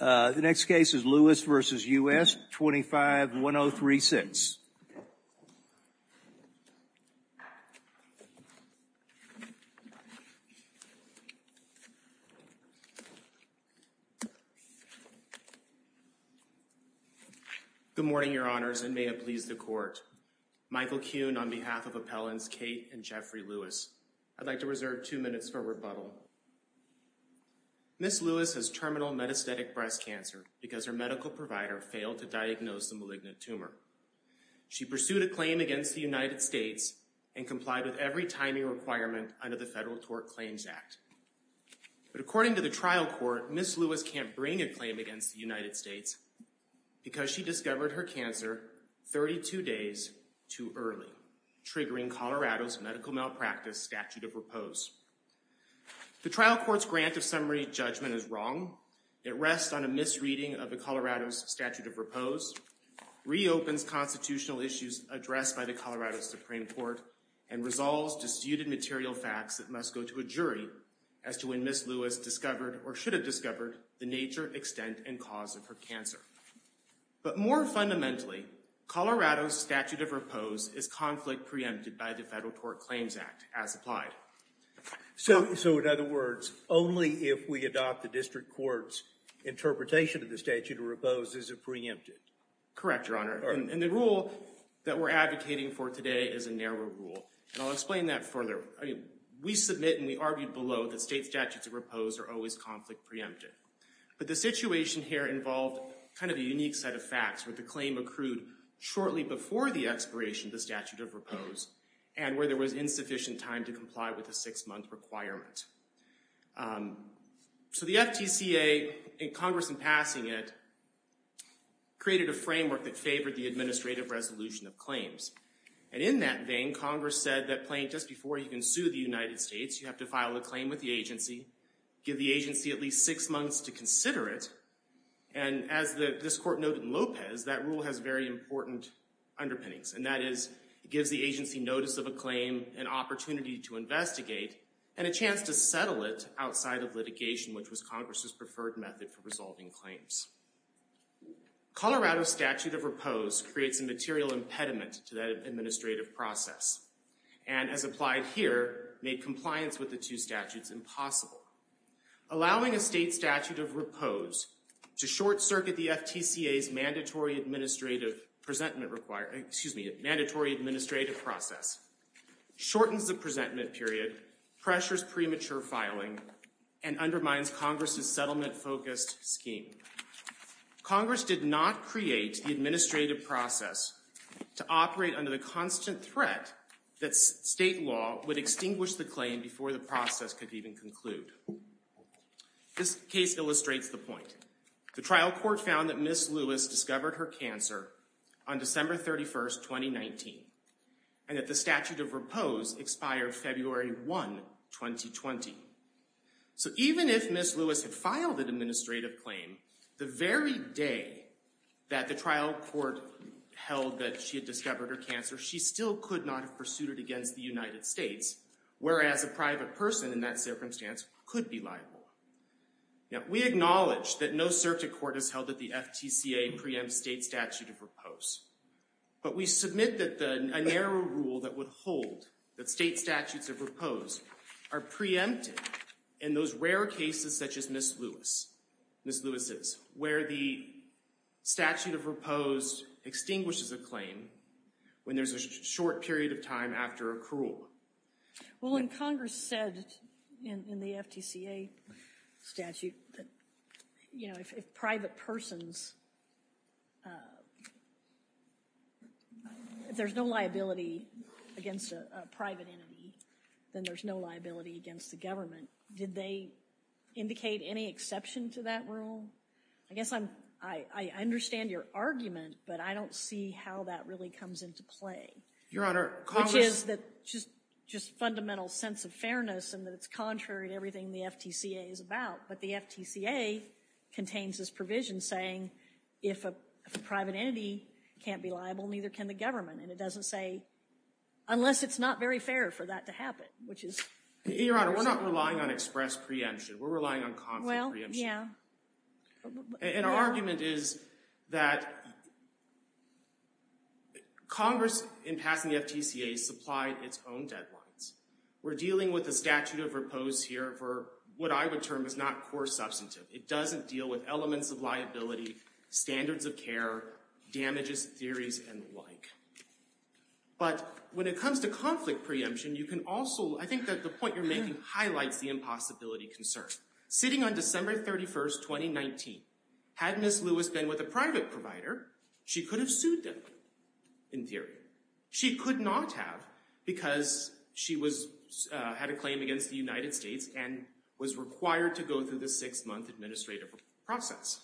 The next case is Lewis v. U.S., 25-103-6. Good morning, Your Honors, and may it please the Court. Michael Kuhn on behalf of Appellants Kate and Jeffrey Lewis. I'd like to reserve two minutes for rebuttal. Ms. Lewis has terminal metastatic breast cancer because her medical provider failed to diagnose the malignant tumor. She pursued a claim against the United States and complied with every timing requirement under the Federal Tort Claims Act. But according to the trial court, Ms. Lewis can't bring a claim against the United States because she discovered her cancer 32 days too early, triggering Colorado's medical malpractice statute of repose. The trial court's grant of summary judgment is wrong. It rests on a misreading of the Colorado's statute of repose, reopens constitutional issues addressed by the Colorado Supreme Court, and resolves disputed material facts that must go to a jury as to when Ms. Lewis discovered, or should have discovered, the nature, extent, and cause of her cancer. But more fundamentally, Colorado's statute of repose is conflict preempted by the Federal Tort Claims Act, as applied. So in other words, only if we adopt the district court's interpretation of the statute of repose is it preempted? Correct, Your Honor. And the rule that we're advocating for today is a narrower rule. And I'll explain that further. We submit and we argued below that state statutes of repose are always conflict preempted. But the situation here involved kind of a unique set of facts where the claim accrued shortly before the expiration of the statute of repose and where there was insufficient time to comply with a six-month requirement. So the FTCA, in Congress in passing it, created a framework that favored the administrative resolution of claims. And in that vein, Congress said that just before you can sue the United States, you have to file a claim with the agency, give the agency at least six months to consider it, and as this court noted in Lopez, that rule has very important underpinnings, and that is it gives the agency notice of a claim, an opportunity to investigate, and a chance to settle it outside of litigation, which was Congress's preferred method for resolving claims. Colorado's statute of repose creates a material impediment to that administrative process and, as applied here, made compliance with the two statutes impossible. Allowing a state statute of repose to short-circuit the FTCA's mandatory administrative process shortens the presentment period, pressures premature filing, and undermines Congress's settlement-focused scheme. Congress did not create the administrative process to operate under the constant threat that state law would extinguish the claim before the process could even conclude. This case illustrates the point. The trial court found that Ms. Lewis discovered her cancer on December 31, 2019, and that the statute of repose expired February 1, 2020. So even if Ms. Lewis had filed an administrative claim, the very day that the trial court held that she had discovered her cancer, she still could not have pursued it against the United States, whereas a private person in that circumstance could be liable. We acknowledge that no circuit court has held that the FTCA preempts state statute of repose, but we submit that a narrow rule that would hold that state statutes of repose are preempted in those rare cases such as Ms. Lewis's, where the statute of repose extinguishes a claim when there's a short period of time after accrual. Well, and Congress said in the FTCA statute that, you know, if private persons, if there's no liability against a private entity, then there's no liability against the government. Did they indicate any exception to that rule? I guess I understand your argument, but I don't see how that really comes into play. Your Honor, Congress— Which is that just fundamental sense of fairness and that it's contrary to everything the FTCA is about, but the FTCA contains this provision saying if a private entity can't be liable, neither can the government, and it doesn't say unless it's not very fair for that to happen, which is— Your Honor, we're not relying on express preemption. We're relying on conflict preemption. Yeah. And our argument is that Congress, in passing the FTCA, supplied its own deadlines. We're dealing with a statute of repose here for what I would term is not core substantive. It doesn't deal with elements of liability, standards of care, damages, theories, and the like. But when it comes to conflict preemption, you can also— I think that the point you're making highlights the impossibility concern. Sitting on December 31, 2019, had Ms. Lewis been with a private provider, she could have sued them in theory. She could not have because she had a claim against the United States and was required to go through the six-month administrative process.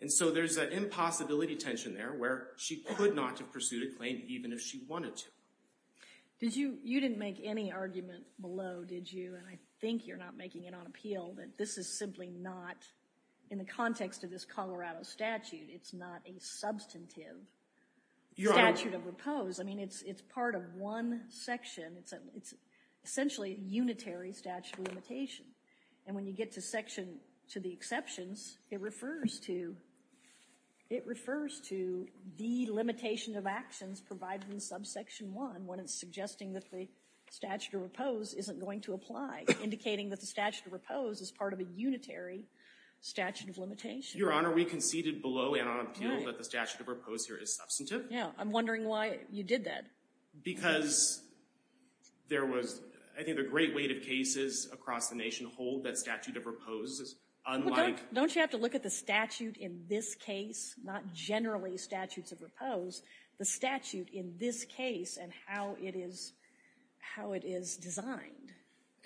And so there's an impossibility tension there where she could not have pursued a claim even if she wanted to. You didn't make any argument below, did you? And I think you're not making it on appeal that this is simply not— in the context of this Colorado statute, it's not a substantive statute of repose. I mean, it's part of one section. It's essentially a unitary statute of limitation. And when you get to section—to the exceptions, it refers to the limitation of actions provided in subsection 1 when it's suggesting that the statute of repose isn't going to apply, indicating that the statute of repose is part of a unitary statute of limitation. Your Honor, we conceded below and on appeal that the statute of repose here is substantive. Yeah, I'm wondering why you did that. Because there was—I think the great weight of cases across the nation hold that statute of repose is unlike— Don't you have to look at the statute in this case? Not generally statutes of repose. The statute in this case and how it is designed.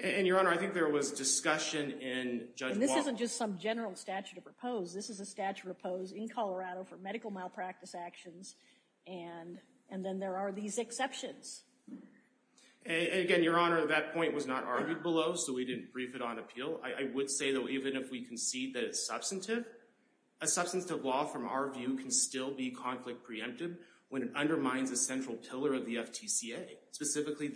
And, Your Honor, I think there was discussion in Judge Walsh— And this isn't just some general statute of repose. This is a statute of repose in Colorado for medical malpractice actions. And then there are these exceptions. Again, Your Honor, that point was not argued below, so we didn't brief it on appeal. I would say, though, even if we concede that it's substantive, a substantive law, from our view, can still be conflict preemptive when it undermines a central pillar of the FTCA, specifically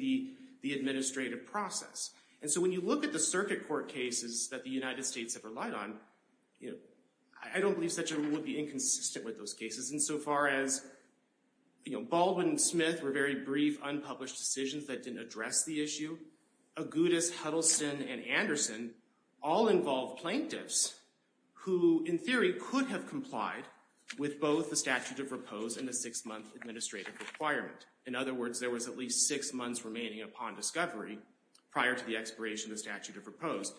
the administrative process. And so when you look at the circuit court cases that the United States have relied on, I don't believe such a rule would be inconsistent with those cases insofar as Baldwin and Smith were very brief, unpublished decisions that didn't address the issue. Agudas, Huddleston, and Anderson all involved plaintiffs who, in theory, could have complied with both the statute of repose and the six-month administrative requirement. In other words, there was at least six months remaining upon discovery prior to the expiration of the statute of repose.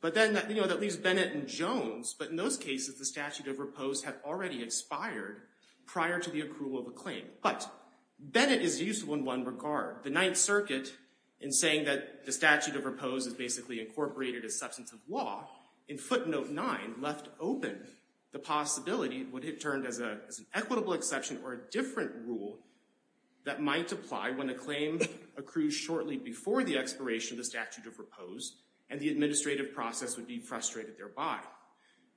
But then that leaves Bennett and Jones. But in those cases, the statute of repose had already expired prior to the approval of a claim. But Bennett is useful in one regard. The Ninth Circuit, in saying that the statute of repose is basically incorporated as substantive law, in footnote nine left open the possibility what it turned as an equitable exception or a different rule that might apply when a claim accrues shortly before the expiration of the statute of repose, and the administrative process would be frustrated thereby.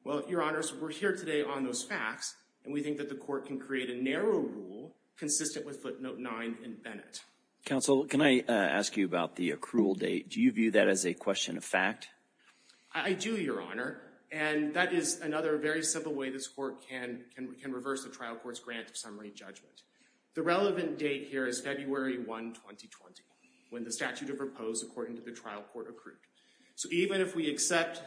Well, Your Honors, we're here today on those facts, and we think that the Court can create a narrow rule consistent with footnote nine in Bennett. Counsel, can I ask you about the accrual date? Do you view that as a question of fact? I do, Your Honor, and that is another very simple way this Court can reverse the trial court's grant of summary judgment. The relevant date here is February 1, 2020, when the statute of repose, according to the trial court, accrued. So even if we accept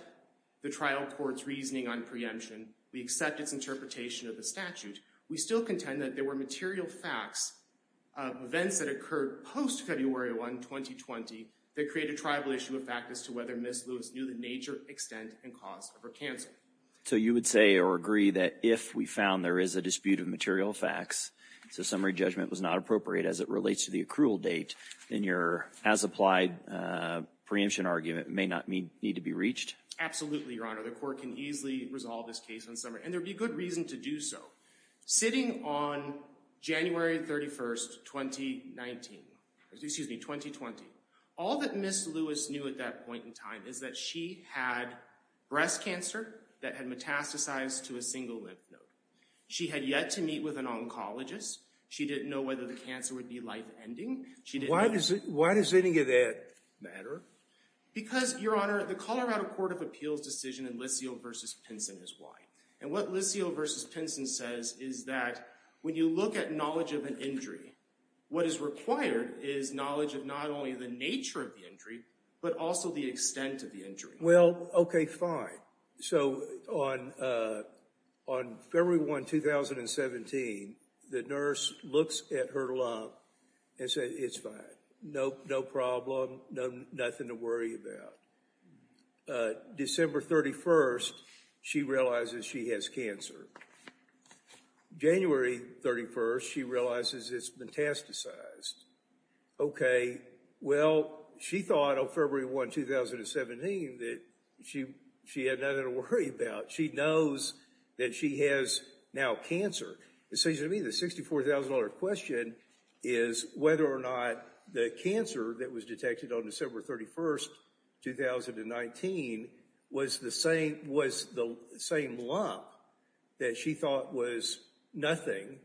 the trial court's reasoning on preemption, we accept its interpretation of the statute, we still contend that there were material facts of events that occurred post-February 1, 2020 that create a tribal issue of fact as to whether Ms. Lewis knew the nature, extent, and cause of her cancer. So you would say or agree that if we found there is a dispute of material facts, so summary judgment was not appropriate as it relates to the accrual date, then your as-applied preemption argument may not need to be reached? Absolutely, Your Honor. The Court can easily resolve this case on summary, and there would be good reason to do so. Sitting on January 31, 2019, excuse me, 2020, all that Ms. Lewis knew at that point in time is that she had breast cancer that had metastasized to a single lymph node. She had yet to meet with an oncologist. She didn't know whether the cancer would be life-ending. Why does any of that matter? Because, Your Honor, the Colorado Court of Appeals decision in Lisio v. Pinson is why. And what Lisio v. Pinson says is that when you look at knowledge of an injury, what is required is knowledge of not only the nature of the injury, but also the extent of the injury. Well, okay, fine. So on February 1, 2017, the nurse looks at her lump and says, it's fine, no problem, nothing to worry about. December 31, she realizes she has cancer. January 31, she realizes it's metastasized. Okay, well, she thought on February 1, 2017, that she had nothing to worry about. She knows that she has now cancer. It seems to me the $64,000 question is whether or not the cancer that was detected on December 31, 2019 was the same lump that she thought was nothing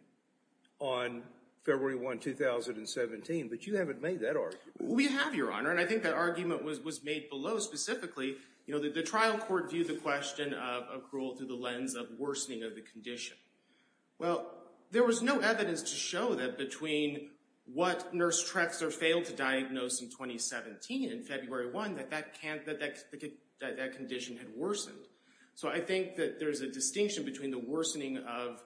on February 1, 2017. But you haven't made that argument. We have, Your Honor. And I think that argument was made below specifically. The trial court viewed the question of accrual through the lens of worsening of the condition. Well, there was no evidence to show that between what nurse Trexler failed to diagnose in 2017, in February 1, that that condition had worsened. So I think that there's a distinction between the worsening of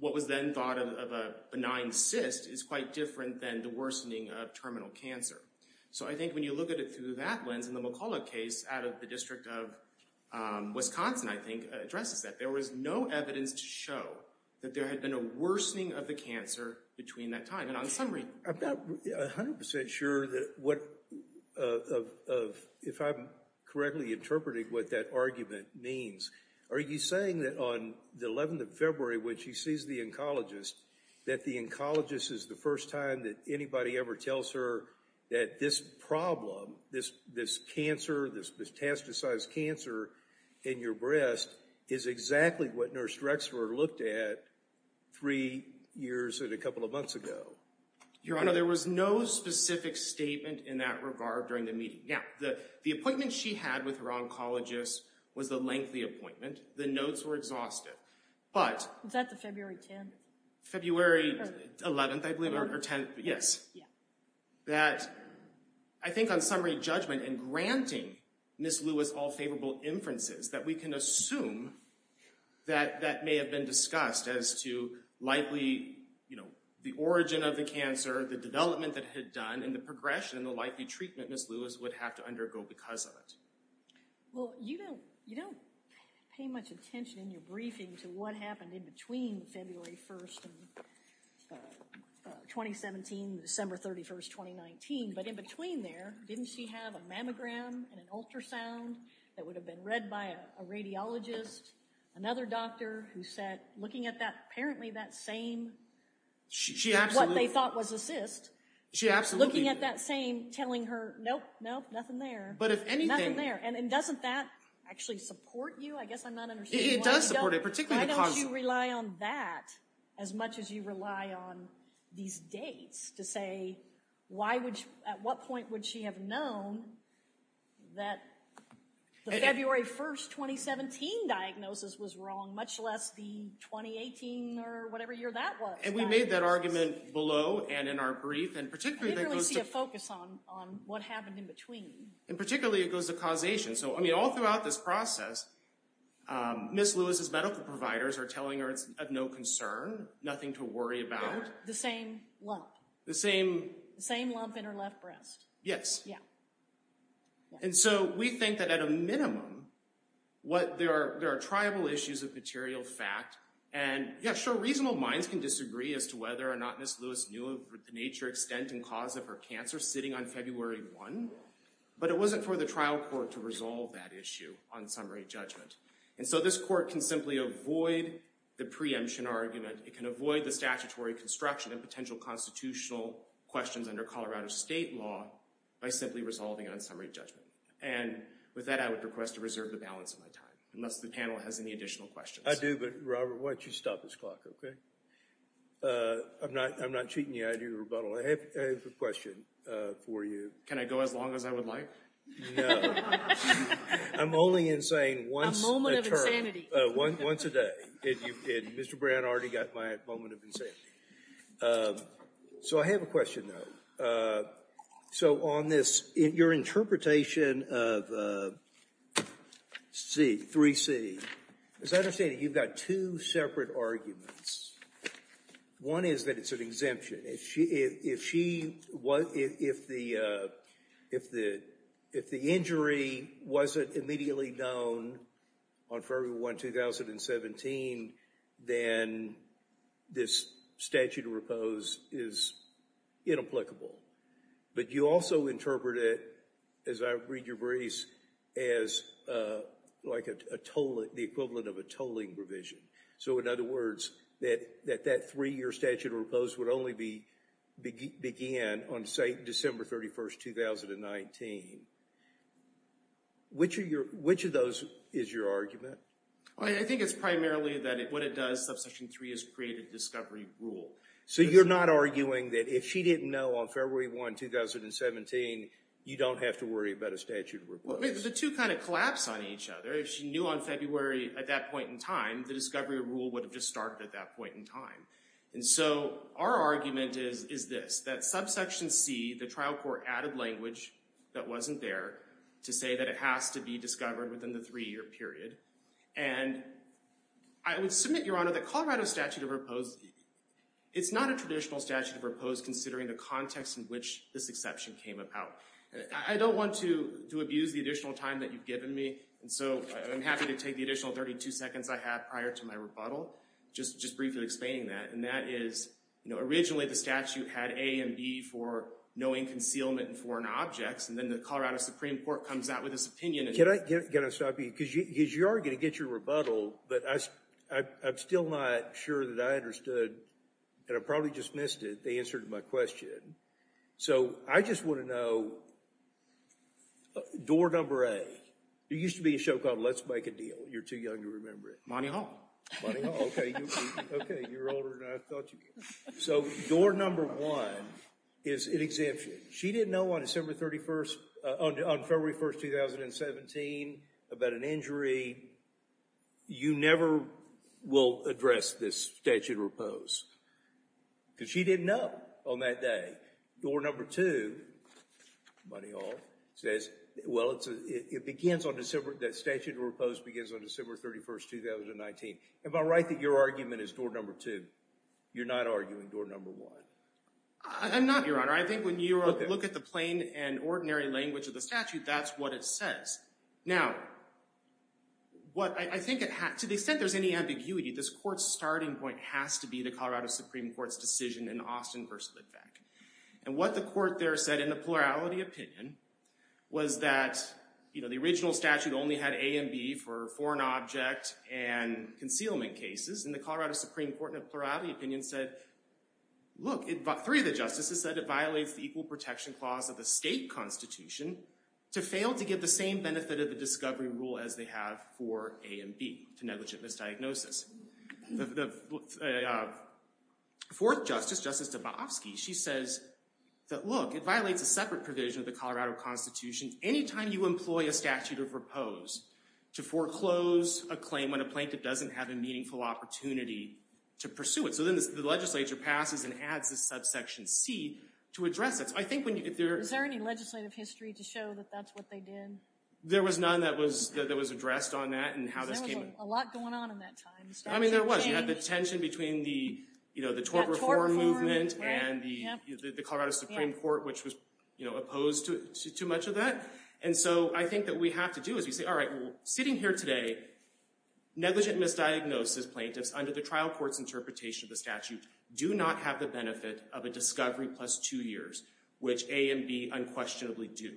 what was then thought of a benign cyst is quite different than the worsening of terminal cancer. So I think when you look at it through that lens, in the McCullough case out of the District of Wisconsin, I think, addresses that. There was no evidence to show that there had been a worsening of the cancer between that time. And on summary— I'm not 100% sure that what— if I'm correctly interpreting what that argument means, are you saying that on the 11th of February, when she sees the oncologist, that the oncologist is the first time that anybody ever tells her that this problem, this cancer, this metastasized cancer in your breast, is exactly what nurse Trexler looked at three years and a couple of months ago? Your Honor, there was no specific statement in that regard during the meeting. Now, the appointment she had with her oncologist was a lengthy appointment. The notes were exhaustive. But— Was that the February 10th? February 11th, I believe, or 10th, yes. Yeah. That I think on summary judgment, in granting Ms. Lewis all favorable inferences, that we can assume that that may have been discussed as to likely, you know, the origin of the cancer, the development that it had done, and the progression and the likely treatment Ms. Lewis would have to undergo because of it. Well, you don't pay much attention in your briefing to what happened in between February 1st and 2017, December 31st, 2019, but in between there, didn't she have a mammogram and an ultrasound that would have been read by a radiologist, another doctor who said, looking at that, apparently that same— She absolutely— —what they thought was a cyst. She absolutely— Looking at that same, telling her, nope, nope, nothing there. But if anything— Nothing there. And doesn't that actually support you? I guess I'm not understanding why you don't— It does support it, particularly the— Why don't you rely on that as much as you rely on these dates to say, at what point would she have known that the February 1st, 2017 diagnosis was wrong, much less the 2018 or whatever year that was? And we made that argument below and in our brief, and particularly that goes to— I literally see a focus on what happened in between. And particularly it goes to causation. So, I mean, all throughout this process, Ms. Lewis's medical providers are telling her it's of no concern, nothing to worry about. The same lump. The same— The same lump in her left breast. Yes. Yeah. And so we think that at a minimum, there are triable issues of material fact. And, yeah, sure, reasonable minds can disagree as to whether or not Ms. Lewis knew of the nature, extent, and cause of her cancer sitting on February 1, but it wasn't for the trial court to resolve that issue on summary judgment. And so this court can simply avoid the preemption argument. It can avoid the statutory construction of potential constitutional questions under Colorado state law by simply resolving on summary judgment. And with that, I would request to reserve the balance of my time, unless the panel has any additional questions. I do, but, Robert, why don't you stop this clock, OK? I'm not cheating you. I do rebuttal. I have a question for you. Can I go as long as I would like? No. I'm only insane once a term. A moment of insanity. Once a day. And Mr. Brown already got my moment of insanity. So I have a question, though. So on this, your interpretation of 3C, as I understand it, you've got two separate arguments. One is that it's an exemption. If the injury wasn't immediately known on February 1, 2017, then this statute of repose is inapplicable. But you also interpret it, as I read your briefs, as the equivalent of a tolling provision. So in other words, that that three-year statute of repose would only begin on, say, December 31, 2019. Which of those is your argument? I think it's primarily that what it does, subsection 3, is create a discovery rule. So you're not arguing that if she didn't know on February 1, 2017, you don't have to worry about a statute of repose? The two kind of collapse on each other. If she knew on February at that point in time, the discovery rule would have just started at that point in time. And so our argument is this, that subsection C, the trial court added language that wasn't there to say that it has to be discovered within the three-year period. And I would submit, Your Honor, that Colorado statute of repose, it's not a traditional statute of repose, considering the context in which this exception came about. I don't want to abuse the additional time that you've given me. And so I'm happy to take the additional 32 seconds I have prior to my rebuttal, just briefly explaining that. And that is, originally, the statute had A and B for knowing concealment in foreign objects. And then the Colorado Supreme Court comes out with this opinion. Can I stop you? Because you are going to get your rebuttal. But I'm still not sure that I understood, and I probably just missed it, the answer to my question. So I just want to know door number A. There used to be a show called Let's Make a Deal. You're too young to remember it. Money Hall. Money Hall, OK. You're older than I thought you were. So door number one is an exemption. She didn't know on December 31, on February 1, 2017, about an injury. You never will address this statute of repose. Because she didn't know on that day. Door number two, Money Hall, says, well, that statute of repose begins on December 31, 2019. Am I right that your argument is door number two? You're not arguing door number one? I'm not, Your Honor. I think when you look at the plain and ordinary language of the statute, that's what it says. Now, to the extent there's any ambiguity, this court's starting point has to be the Colorado Supreme Court's decision in Austin v. Litvak. And what the court there said, in the plurality opinion, was that the original statute only had A and B for foreign object and concealment cases. And the Colorado Supreme Court, in a plurality opinion, said, look, three of the justices said it violates the equal protection clause of the state constitution to fail to give the same benefit of the discovery rule as they have for A and B to negligent misdiagnosis. The fourth justice, Justice Dabowski, she says that, look, it violates a separate provision of the Colorado Constitution. Any time you employ a statute of repose to foreclose a claim when a plaintiff doesn't have a meaningful opportunity to pursue it. So then the legislature passes and adds a subsection C to address it. I think when you get there. Is there any legislative history to show that that's what they did? There was none that was addressed on that and how this came about. Because there was a lot going on in that time. I mean, there was. You had the tension between the tort reform movement and the Colorado Supreme Court, which was opposed to too much of that. And so I think that we have to do is we say, all right, well, sitting here today, negligent misdiagnosis plaintiffs under the trial court's interpretation of the statute do not have the benefit of a discovery plus two years, which A and B unquestionably do.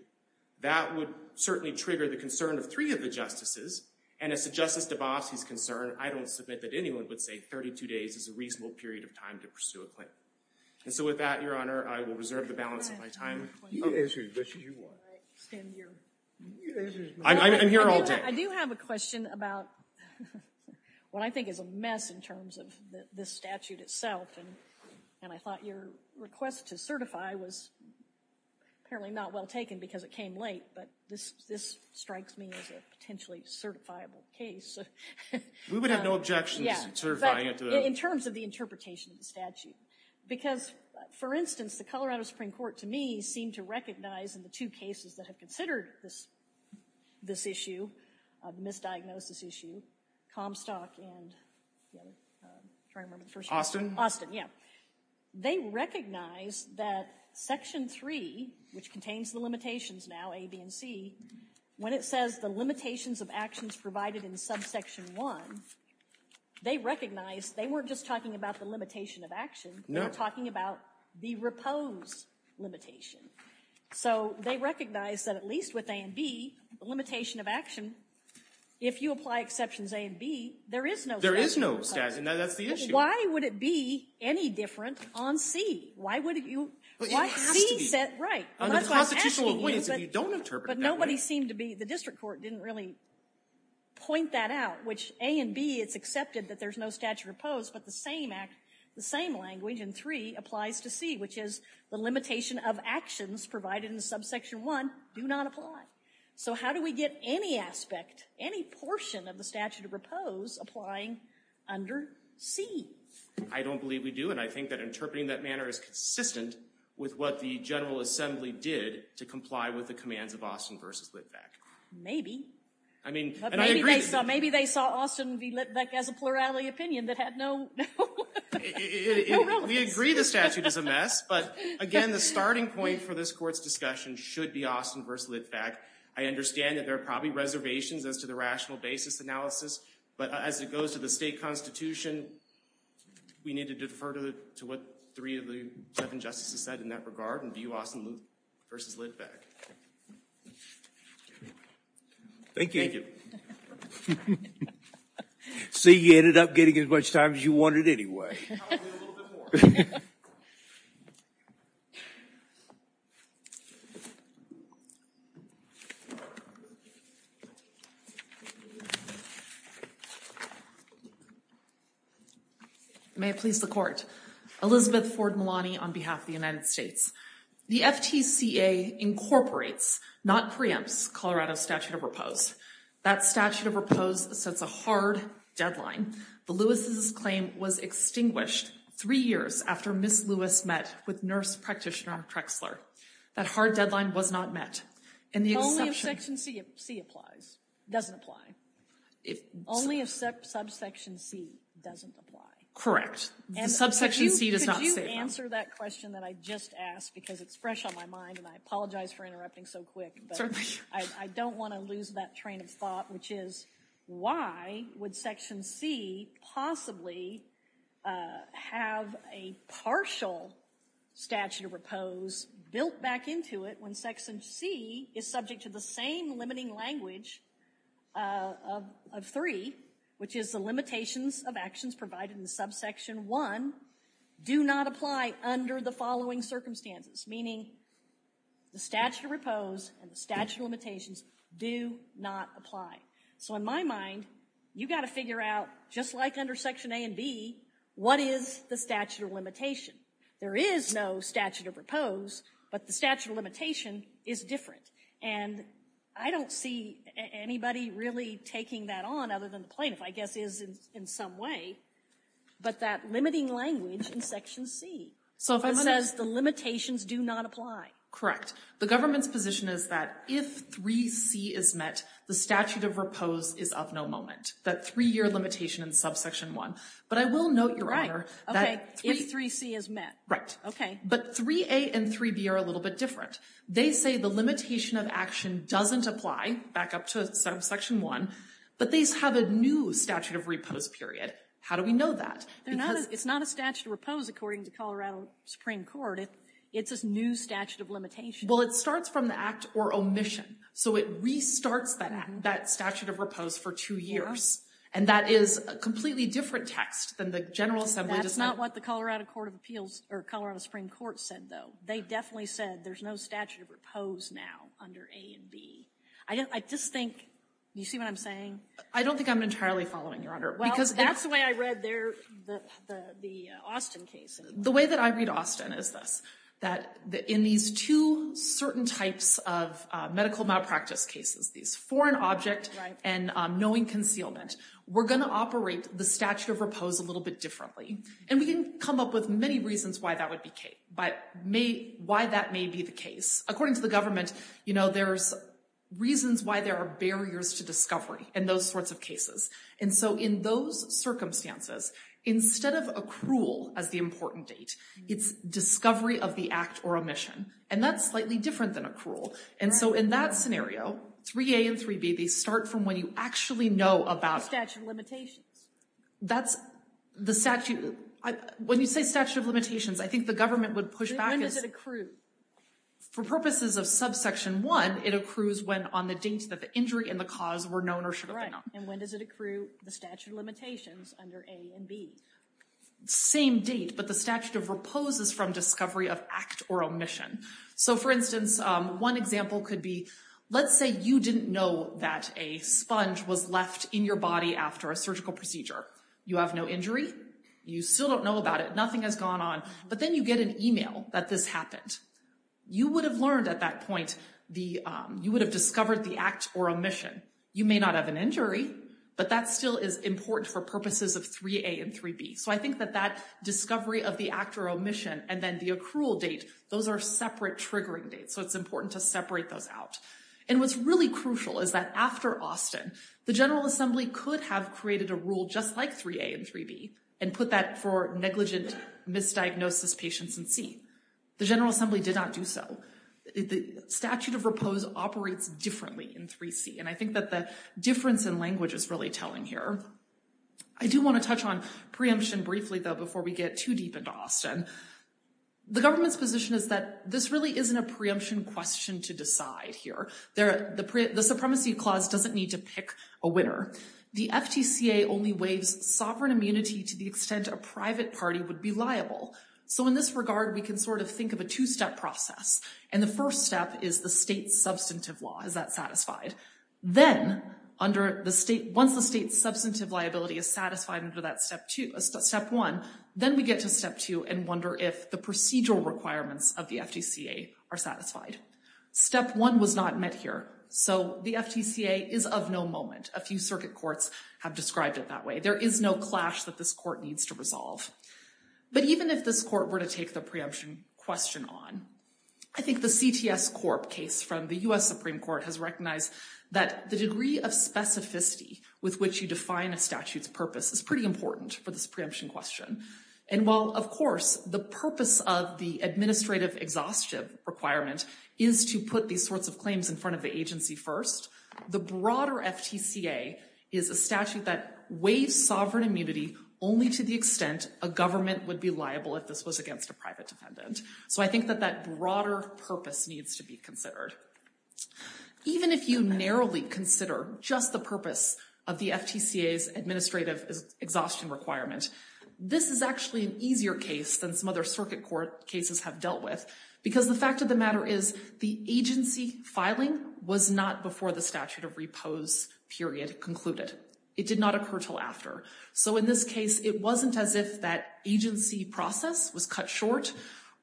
That would certainly trigger the concern of three of the justices. And as to Justice Dabowski's concern, I don't submit that anyone would say 32 days is a reasonable period of time to pursue a claim. And so with that, Your Honor, I will reserve the balance of my time. You can answer as much as you want. I'm here all day. I do have a question about what I think is a mess in terms of this statute itself. And I thought your request to certify was apparently not well taken because it came late. But this strikes me as a potentially certifiable case. We would have no objections to certifying it. But in terms of the interpretation of the statute. Because, for instance, the Colorado Supreme Court, to me, seemed to recognize in the two cases that have considered this issue, the misdiagnosis issue, Comstock and the other, I'm trying to remember the first one. Austin? Austin, yeah. They recognized that Section 3, which contains the limitations now, A, B, and C, when it says the limitations of actions provided in subsection 1, they recognized they weren't just talking about the limitation of action. They were talking about the repose limitation. So they recognized that, at least with A and B, the limitation of action, if you apply exceptions A and B, there is no statute of repose. There is no statute of repose. That's the issue. Why would it be any different on C? Why would you? Well, it has to be. C said, right. That's why I'm asking you. Under the constitutional acquaintance, if you don't interpret it that way. But nobody seemed to be. The district court didn't really point that out. Which, A and B, it's accepted that there's no statute of repose. But the same language in 3 applies to C, which is the limitation of actions provided in subsection 1 do not apply. So how do we get any aspect, any portion of the statute of repose applying under C? I don't believe we do. And I think that interpreting that manner is consistent with what the General Assembly did to comply with the commands of Austin versus Litvak. Maybe. I mean, and I agree. Maybe they saw Austin v. Litvak as a plurality opinion that had no relevance. We agree the statute is a mess. But again, the starting point for this court's discussion should be Austin versus Litvak. I understand that there are probably reservations as to the rational basis analysis. But as it goes to the state constitution, we need to defer to what three of the seven justices said in that regard and view Austin versus Litvak. Thank you. Thank you. See, you ended up getting as much time as you wanted anyway. Probably a little bit more. May it please the court. Elizabeth Ford Malani on behalf of the United States. The FTCA incorporates, not preempts, Colorado's statute of repose. That statute of repose sets a hard deadline. The Lewis's claim was extinguished three years after Ms. Lewis met with nurse practitioner Trexler. That hard deadline was not met. Only if section C applies, doesn't apply. Only if subsection C doesn't apply. Correct. The subsection C does not say that. Could you answer that question that I just asked because it's fresh on my mind and I apologize for interrupting so quick. Certainly. I don't want to lose that train of thought, which is why would section C possibly have a partial statute of repose built back into it when section C is subject to the same limiting language of three, which is the limitations of actions provided in subsection 1 do not apply under the following circumstances. Meaning the statute of repose and the statute of limitations do not apply. So in my mind, you've got to figure out, just like under section A and B, what is the statute of limitation. There is no statute of repose, but the statute of limitation is different. And I don't see anybody really taking that on other than the plaintiff, I guess is in some way. But that limiting language in section C. It says the limitations do not apply. The government's position is that if 3C is met, the statute of repose is of no moment. That three-year limitation in subsection 1. But I will note, Your Honor, that 3A and 3B are a little bit different. They say the limitation of action doesn't apply, back up to subsection 1, but they have a new statute of repose period. How do we know that? Because it's not a statute of repose according to Colorado Supreme Court. It's a new statute of limitation. Well, it starts from the act or omission. So it restarts that statute of repose for two years. And that is a completely different text than the General Assembly does not. That's not what the Colorado Supreme Court said, though. They definitely said there's no statute of repose now under A and B. I just think, you see what I'm saying? I don't think I'm entirely following, Your Honor. Well, that's the way I read the Austin case. The way that I read Austin is this, that in these two certain types of medical malpractice cases, these foreign object and knowing concealment, we're going to operate the statute of repose a little bit differently. And we can come up with many reasons why that would be the case. According to the government, there's reasons why there are barriers to discovery in those sorts of cases. And so in those circumstances, instead of accrual as the important date, it's discovery of the act or omission. And that's slightly different than accrual. And so in that scenario, 3A and 3B, they start from when you actually know about. The statute of limitations. That's the statute. When you say statute of limitations, I think the government would push back. When does it accrue? For purposes of subsection 1, it accrues when on the date that the injury and the cause were known or should have been known. And when does it accrue? The statute of limitations under A and B. Same date, but the statute of repose is from discovery of act or omission. So for instance, one example could be, let's say you didn't know that a sponge was left in your body after a surgical procedure. You have no injury. You still don't know about it. Nothing has gone on. But then you get an email that this happened. You would have learned at that point, you would have discovered the act or omission. You may not have an injury, but that still is important for purposes of 3A and 3B. So I think that that discovery of the act or omission and then the accrual date, those are separate triggering dates. So it's important to separate those out. And what's really crucial is that after Austin, the General Assembly could have created a rule just like 3A and 3B and put that for negligent misdiagnosis patients in C. The General Assembly did not do so. The statute of repose operates differently in 3C. And I think that the difference in language is really telling here. I do want to touch on preemption briefly, though, before we get too deep into Austin. The government's position is that this really isn't a preemption question to decide here. The supremacy clause doesn't need to pick a winner. The FTCA only waives sovereign immunity to the extent a private party would be liable. So in this regard, we can sort of think of a two-step process. And the first step is the state's substantive law. Is that satisfied? Once the state's substantive liability is satisfied under that step one, then we get to step two and wonder if the procedural requirements of the FTCA are satisfied. Step one was not met here. So the FTCA is of no moment. A few circuit courts have described it that way. There is no clash that this court needs to resolve. But even if this court were to take the preemption question on, I think the CTS Corp case from the US Supreme Court has recognized that the degree of specificity with which you define a statute's purpose is pretty important for this preemption question. And while, of course, the purpose of the administrative exhaustion requirement is to put these sorts of claims in front of the agency first, the broader FTCA is a statute that waives sovereign immunity only to the extent a government would be liable if this was against a private defendant. So I think that that broader purpose needs to be considered. Even if you narrowly consider just the purpose of the FTCA's administrative exhaustion requirement, this is actually an easier case than some other circuit court cases have dealt with. Because the fact of the matter is the agency filing was not before the statute of repose period concluded. It did not occur till after. So in this case, it wasn't as if that agency process was cut short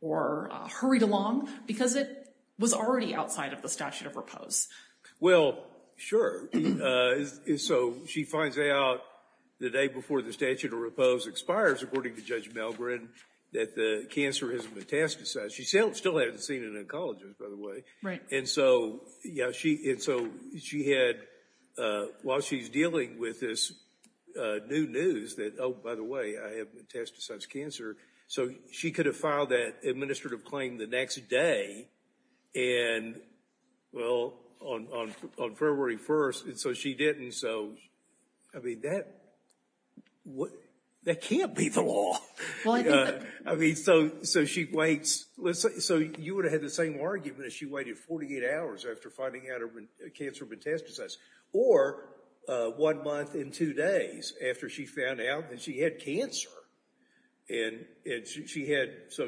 or hurried along. Because it was already outside of the statute of repose. Well, sure. So she finds out the day before the statute of repose expires, according to Judge Melgren, that the cancer has metastasized. She still hasn't seen an oncologist, by the way. Right. And so while she's dealing with this new news that, oh, by the way, I have metastasized cancer. So she could have filed that administrative claim the next day. And well, on February 1st. And so she didn't. So I mean, that can't be the law. Well, I think that. I mean, so she waits. So you would have had the same argument if she waited 48 hours after finding out her cancer metastasized. Or one month and two days after she found out that she had cancer. And so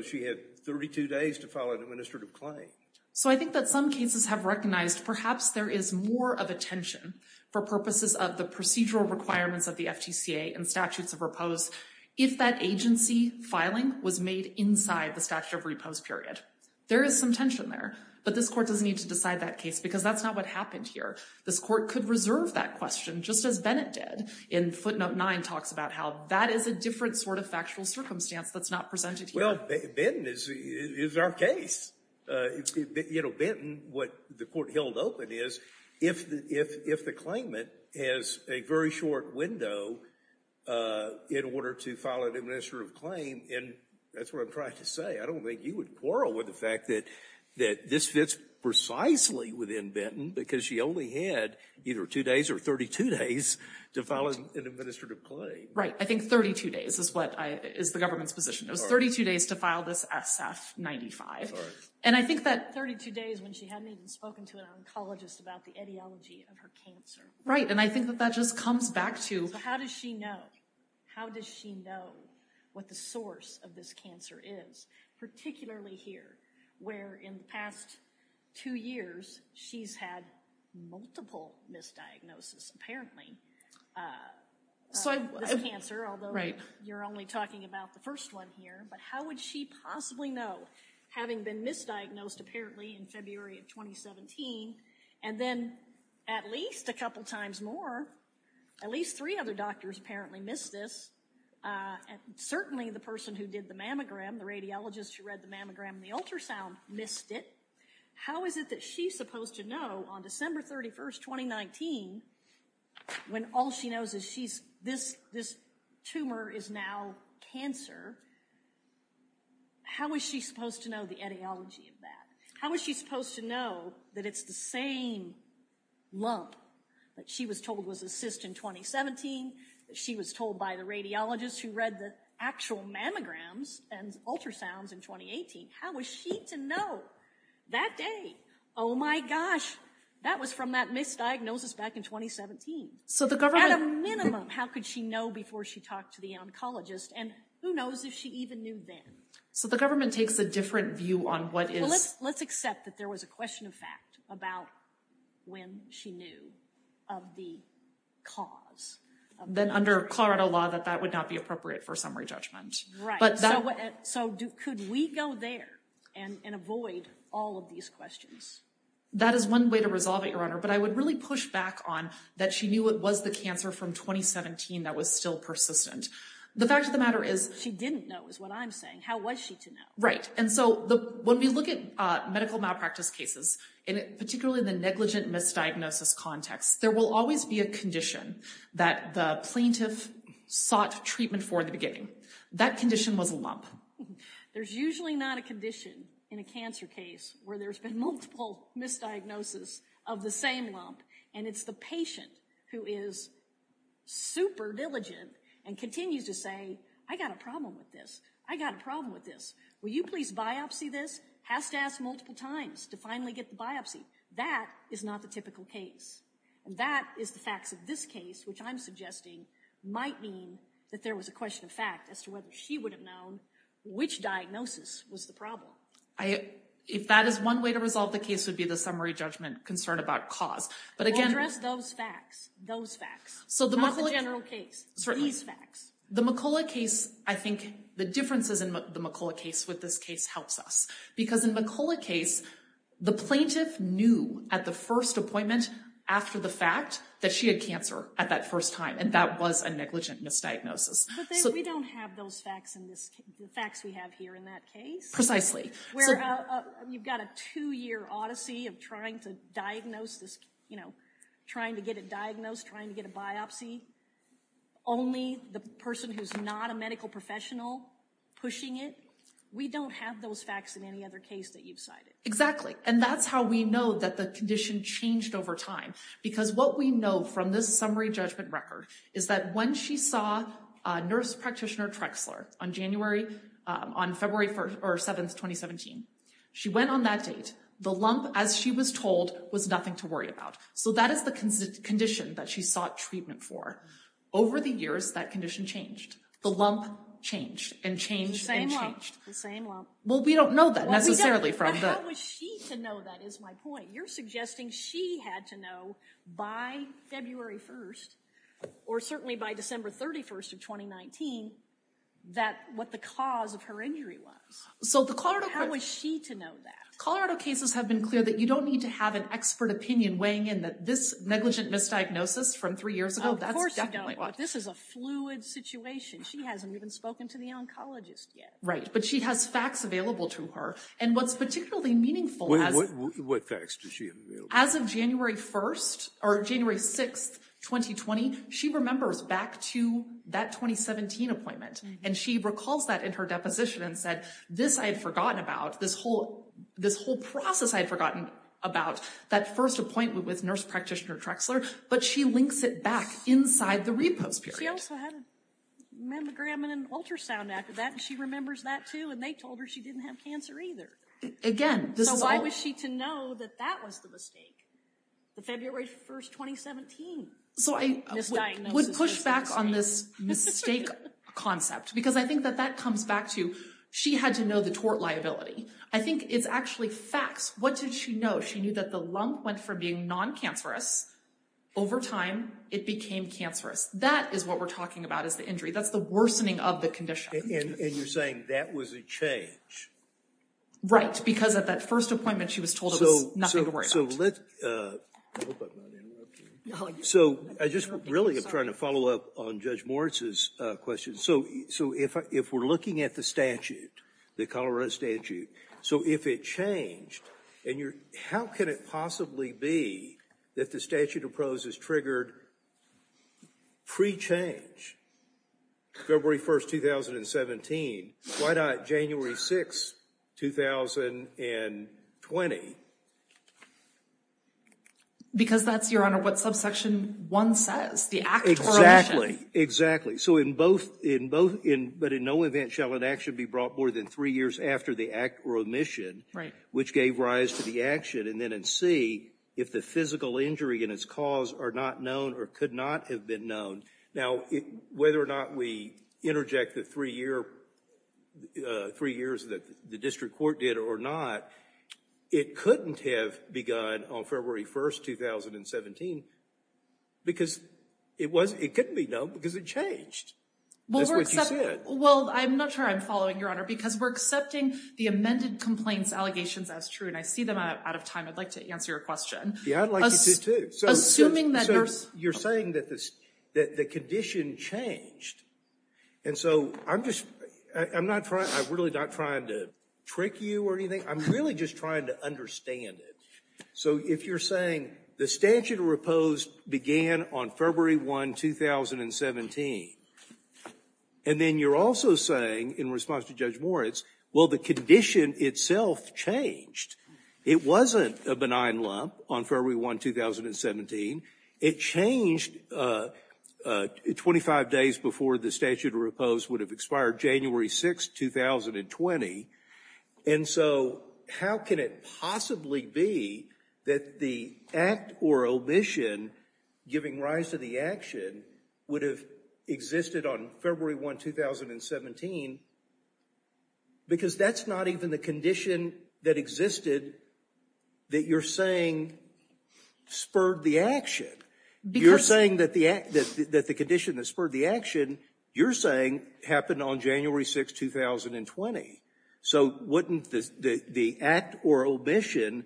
she had 32 days to file an administrative claim. So I think that some cases have recognized, perhaps, there is more of a tension, for purposes of the procedural requirements of the FTCA and statutes of repose, if that agency filing was made inside the statute of repose period. There is some tension there. But this court doesn't need to decide that case. Because that's not what happened here. This court could reserve that question, just as Bennett did. And Footnote 9 talks about how that is a different sort of factual circumstance that's not presented here. Well, Benton is our case. You know, Benton, what the court held open is, if the claimant has a very short window in order to file an administrative claim. And that's what I'm trying to say. I don't think you would quarrel with the fact that this fits precisely within Benton. Because she only had either two days or 32 days to file an administrative claim. I think 32 days is the government's position. It was 32 days to file this SF-95. And I think that- 32 days when she hadn't even spoken to an oncologist about the etiology of her cancer. Right. And I think that that just comes back to- So how does she know? How does she know what the source of this cancer is? Particularly here, where in the past two years, she's had multiple misdiagnoses. Apparently, of this cancer. Although, you're only talking about the first one here. But how would she possibly know? Having been misdiagnosed, apparently, in February of 2017. And then, at least a couple times more, at least three other doctors apparently missed this. Certainly, the person who did the mammogram, the radiologist who read the mammogram and the ultrasound, missed it. How is it that she's supposed to know, on December 31st, 2019, when all she knows is this tumor is now cancer, how is she supposed to know the etiology of that? How is she supposed to know that it's the same lump that she was told was a cyst in 2017, that she was told by the radiologist who read the actual mammograms and ultrasounds in 2018? How was she to know that day? Oh, my gosh. That was from that misdiagnosis back in 2017. At a minimum, how could she know before she talked to the oncologist? And who knows if she even knew then? So, the government takes a different view on what is... Let's accept that there was a question of fact about when she knew of the cause. Then, under Colorado law, that that would not be appropriate for summary judgment. Right. So, could we go there and avoid all of these questions? That is one way to resolve it, Your Honor. But I would really push back on that she knew it was the cancer from 2017 that was still persistent. The fact of the matter is... She didn't know, is what I'm saying. How was she to know? Right. And so, when we look at medical malpractice cases, particularly in the negligent misdiagnosis context, there will always be a condition that the plaintiff sought treatment for in the beginning. That condition was a lump. There's usually not a condition in a cancer case where there's been multiple misdiagnoses of the same lump. And it's the patient who is super diligent and continues to say, I got a problem with this. I got a problem with this. Will you please biopsy this? Has to ask multiple times to finally get the biopsy. That is not the typical case. And that is the facts of this case, which I'm suggesting might mean that there was a question of fact as to whether she would have known which diagnosis was the problem. If that is one way to resolve the case, it would be the summary judgment concern about cause. We'll address those facts. Those facts. Not the general case. Certainly. The McCullough case, I think the differences in the McCullough case with this case helps us. Because in the McCullough case, the plaintiff knew at the first appointment after the fact that she had cancer at that first time, and that was a negligent misdiagnosis. But we don't have those facts in this case, the facts we have here in that case. Precisely. Where you've got a two-year odyssey of trying to diagnose this, you know, trying to get it diagnosed, trying to get a biopsy. Only the person who's not a medical professional pushing it. We don't have those facts in any other case that you've cited. Exactly. And that's how we know that the condition changed over time. Because what we know from this summary judgment record is that when she saw nurse practitioner Trexler on February 7, 2017, she went on that date. The lump, as she was told, was nothing to worry about. So that is the condition that she sought treatment for. Over the years, that condition changed. The lump changed, and changed, and changed. The same lump. Well, we don't know that, necessarily. How was she to know that is my point. You're suggesting she had to know by February 1, or certainly by December 31 of 2019, what the cause of her injury was. How was she to know that? Colorado cases have been clear that you don't need to have an expert opinion weighing in that this negligent misdiagnosis from three years ago, that's definitely... This is a fluid situation. She hasn't even spoken to the oncologist yet. Right. But she has facts available to her. And what's particularly meaningful... What facts does she have available? As of January 1, or January 6, 2020, she remembers back to that 2017 appointment. And she recalls that in her deposition and said, this I had forgotten about, this whole process I had forgotten about, that first appointment with nurse practitioner Trexler, but she links it back inside the repose period. She also had a mammogram and an ultrasound after that, and she remembers that too, and they told her she didn't have cancer either. Again, this is all... So why was she to know that that was the mistake? The February 1, 2017 misdiagnosis... So I would push back on this mistake concept, because I think that that comes back to, she had to know the tort liability. I think it's actually facts. What did she know? She knew that the lump went from being non-cancerous, over time, it became cancerous. That is what we're talking about is the injury. That's the worsening of the condition. And you're saying that was a change? Right, because at that first appointment, she was told it was nothing to worry about. So let's... So I just really am trying to follow up on Judge Moritz's question. So if we're looking at the statute, the Colorado statute, so if it changed, and how can it possibly be that the statute of pros is triggered pre-change? February 1, 2017. Why not January 6, 2020? Because that's, Your Honor, what subsection one says, the act or omission. Exactly, exactly. So in both, but in no event shall an action be brought more than three years after the act or omission, which gave rise to the action, and then in C, if the physical injury and its cause are not known or could not have been known. Now, whether or not we interject the three years that the district court did or not, it couldn't have begun on February 1, 2017 because it couldn't be known because it changed. That's what you said. Well, I'm not sure I'm following, Your Honor, because we're accepting the amended complaints allegations as true, and I see them out of time. I'd like to answer your question. Yeah, I'd like you to too. Assuming that you're... So you're saying that the condition changed, and so I'm just, I'm not trying, I'm really not trying to trick you or anything. I'm really just trying to understand it. So if you're saying the statute of repose began on February 1, 2017, and then you're also saying, in response to Judge Moritz, well, the condition itself changed. It wasn't a benign lump on February 1, 2017. It changed 25 days before the statute of repose would have expired January 6, 2020, and so how can it possibly be that the act or omission giving rise to the action would have existed on February 1, 2017 because that's not even the condition that existed that you're saying spurred the action. You're saying that the condition that spurred the action, you're saying happened on January 6, 2020, so wouldn't the act or omission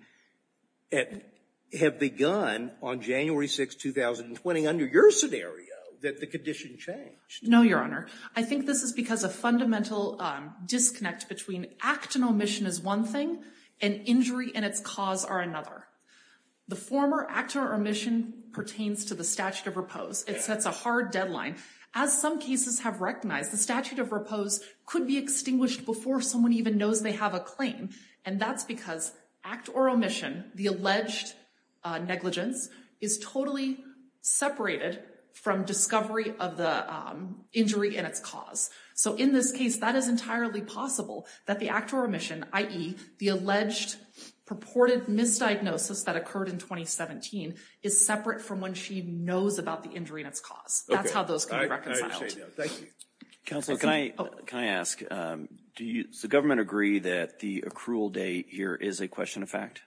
have begun on January 6, 2020 under your scenario that the condition changed? No, Your Honor. I think this is because a fundamental disconnect between act and omission is one thing and injury and its cause are another. The former act or omission pertains to the statute of repose. It sets a hard deadline. As some cases have recognized, the statute of repose could be extinguished before someone even knows they have a claim, and that's because act or omission, the alleged negligence, is totally separated from discovery of the injury and its cause. So in this case, that is entirely possible that the act or omission, i.e., the alleged purported misdiagnosis that occurred in 2017, is separate from when she knows about the injury and its cause. That's how those can be reconciled. Thank you. Counsel, can I ask, does the government agree that the accrual date here is a question of fact?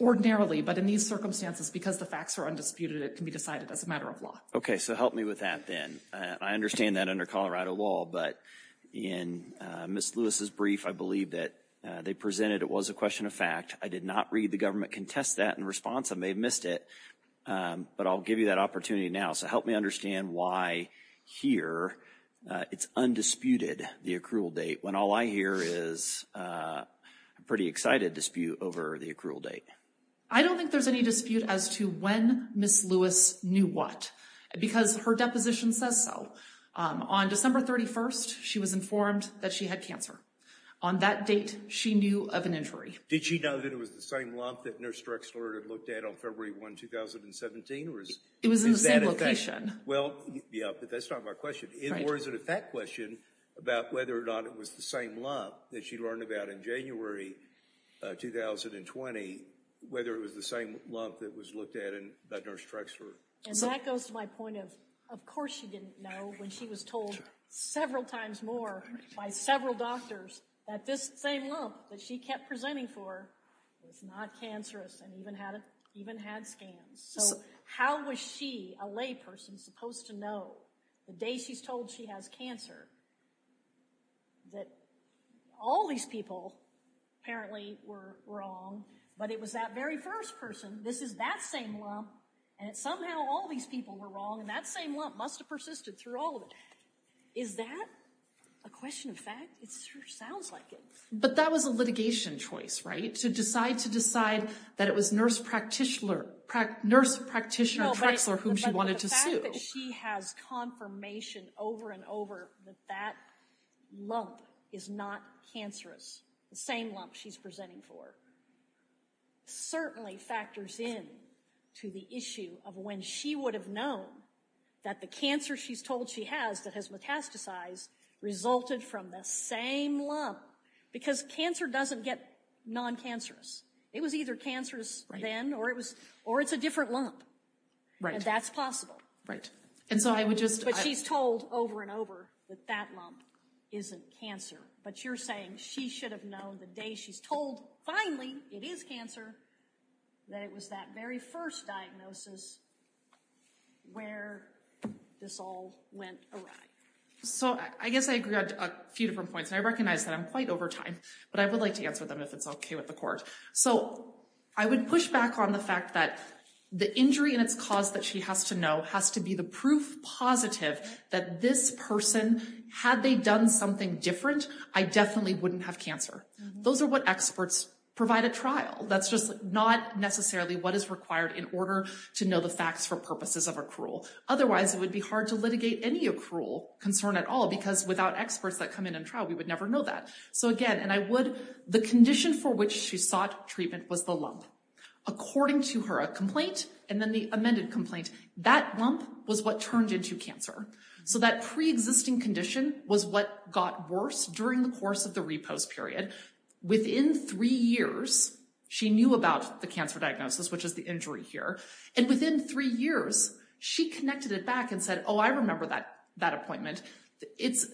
Ordinarily, but in these circumstances, because the facts are undisputed, it can be decided as a matter of law. Okay, so help me with that then. I understand that under Colorado law, but in Ms. Lewis's brief, I believe that they presented it was a question of fact. I did not read the government contest that in response. I may have missed it, but I'll give you that opportunity now. So help me understand why here it's undisputed, the accrual date, when all I hear is a pretty excited dispute over the accrual date. I don't think there's any dispute as to when Ms. Lewis knew what, because her deposition says so. On December 31st, she was informed that she had cancer. On that date, she knew of an injury. Did she know that it was the same lump that Nurse Drexler had looked at on February 1, 2017? It was in the same location. Well, yeah, but that's not my question. Or is it a fact question about whether or not it was the same lump that she learned about in January 2020, whether it was the same lump that was looked at by Nurse Drexler? And that goes to my point of, of course she didn't know when she was told several times more by several doctors that this same lump that she kept presenting for is not cancerous and even had scans. So how was she, a layperson, supposed to know the day she's told she has cancer that all these people apparently were wrong, but it was that very first person, this is that same lump, and somehow all these people were wrong, and that same lump must have persisted through all of it. Is that a question of fact? It sure sounds like it. But that was a litigation choice, right? To decide to decide that it was Nurse Practitioner Drexler whom she wanted to sue. But the fact that she has confirmation over and over that that lump is not cancerous, the same lump she's presenting for, certainly factors in to the issue of when she would have known that the cancer she's told she has that has metastasized resulted from the same lump. Because cancer doesn't get non-cancerous. It was either cancerous then, or it's a different lump. And that's possible. But she's told over and over that that lump isn't cancer. But you're saying she should have known the day she's told finally it is cancer that it was that very first diagnosis where this all went awry. So I guess I agree on a few different points. And I recognize that I'm quite over time, but I would like to answer them if it's okay with the court. So I would push back on the fact that the injury and its cause that she has to know has to be the proof positive that this person, had they done something different, I definitely wouldn't have cancer. Those are what experts provide at trial. That's just not necessarily what is required in order to know the facts for purposes of accrual. Otherwise, it would be hard to litigate any accrual concern at all, because without experts that come in and trial, we would never know that. So again, and I would, the condition for which she sought treatment was the lump. According to her complaint, and then the amended complaint, that lump was what turned into cancer. So that pre-existing condition was what got worse during the course of the repose period. Within three years, she knew about the cancer diagnosis, which is the injury here. And within three years, she connected it back and said, oh, I remember that appointment.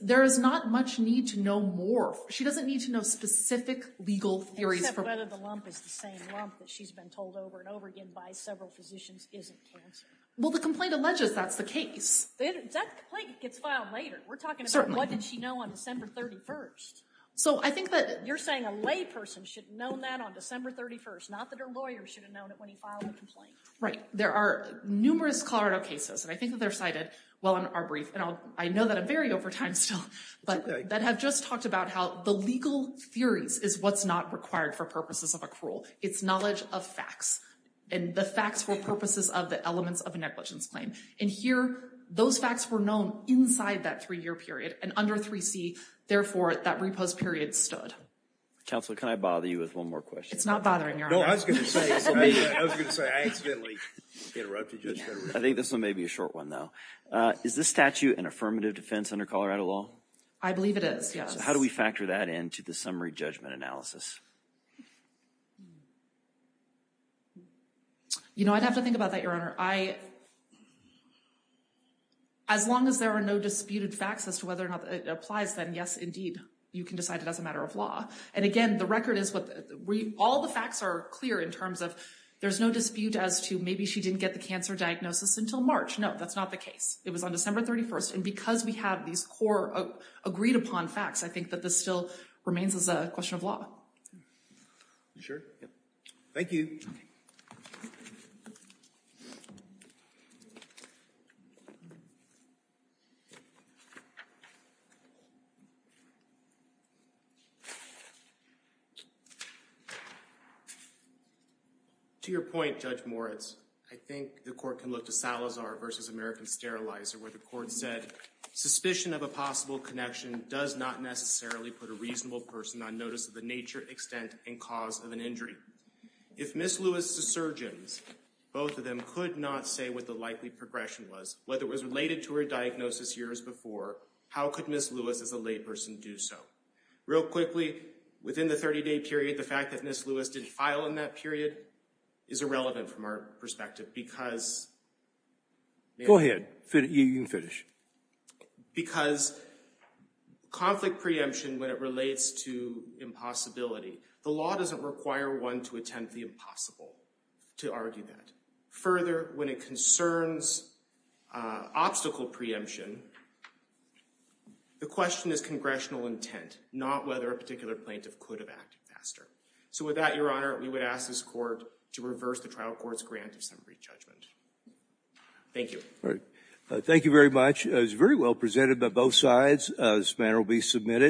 There is not much need to know more. She doesn't need to know specific legal theories. Except whether the lump is the same lump that she's been told over and over again by several physicians isn't cancer. Well, the complaint alleges that's the case. That complaint gets filed later. We're talking about what did she know on December 31st. So I think that- You're saying a lay person should have known that on December 31st, not that her lawyer should have known it when he filed the complaint. Right. There are numerous Colorado cases, and I think that they're cited well in our brief, and I know that I'm very over time still, but that have just talked about how the legal theories is what's not required for purposes of a cruel. It's knowledge of facts. And the facts were purposes of the elements of a negligence claim. And here, those facts were known inside that three-year period, and under 3C, therefore, that repose period stood. Counselor, can I bother you with one more question? It's not bothering you. No, I was going to say, I was going to say, I accidentally interrupted you. I think this one may be a short one, though. Is this statute an affirmative defense under Colorado law? I believe it is, yes. How do we factor that into the summary judgment analysis? You know, I'd have to think about that, Your Honor. As long as there are no disputed facts as to whether or not it applies, then, yes, indeed, you can decide it as a matter of law. And again, the record is, all the facts are clear in terms of there's no dispute as to maybe she didn't get the cancer diagnosis until March. No, that's not the case. It was on December 31st. And because we have these core agreed-upon facts, I think that this still remains as a question of law. You sure? Yep. Thank you. To your point, Judge Moritz, I think the court can look to Salazar versus American Sterilizer, where the court said, suspicion of a possible connection does not necessarily put a reasonable person on notice of the nature, extent, and cause of an injury. If Ms. Lewis' surgeons, both of them, could not say what the likely progression was, whether it was related to her diagnosis years before, how could Ms. Lewis, as a living witness, Real quickly, within the 30-day period, the fact that Ms. Lewis didn't file in that period is irrelevant from our perspective because... Go ahead. You can finish. Because conflict preemption, when it relates to impossibility, the law doesn't require one to attempt the impossible to argue that. Further, when it concerns obstacle preemption, the question is congressional intent, not whether a particular plaintiff could have acted faster. So with that, Your Honor, we would ask this court to reverse the trial court's grant of summary judgment. Thank you. Thank you very much. It was very well presented by both sides. This matter will be submitted.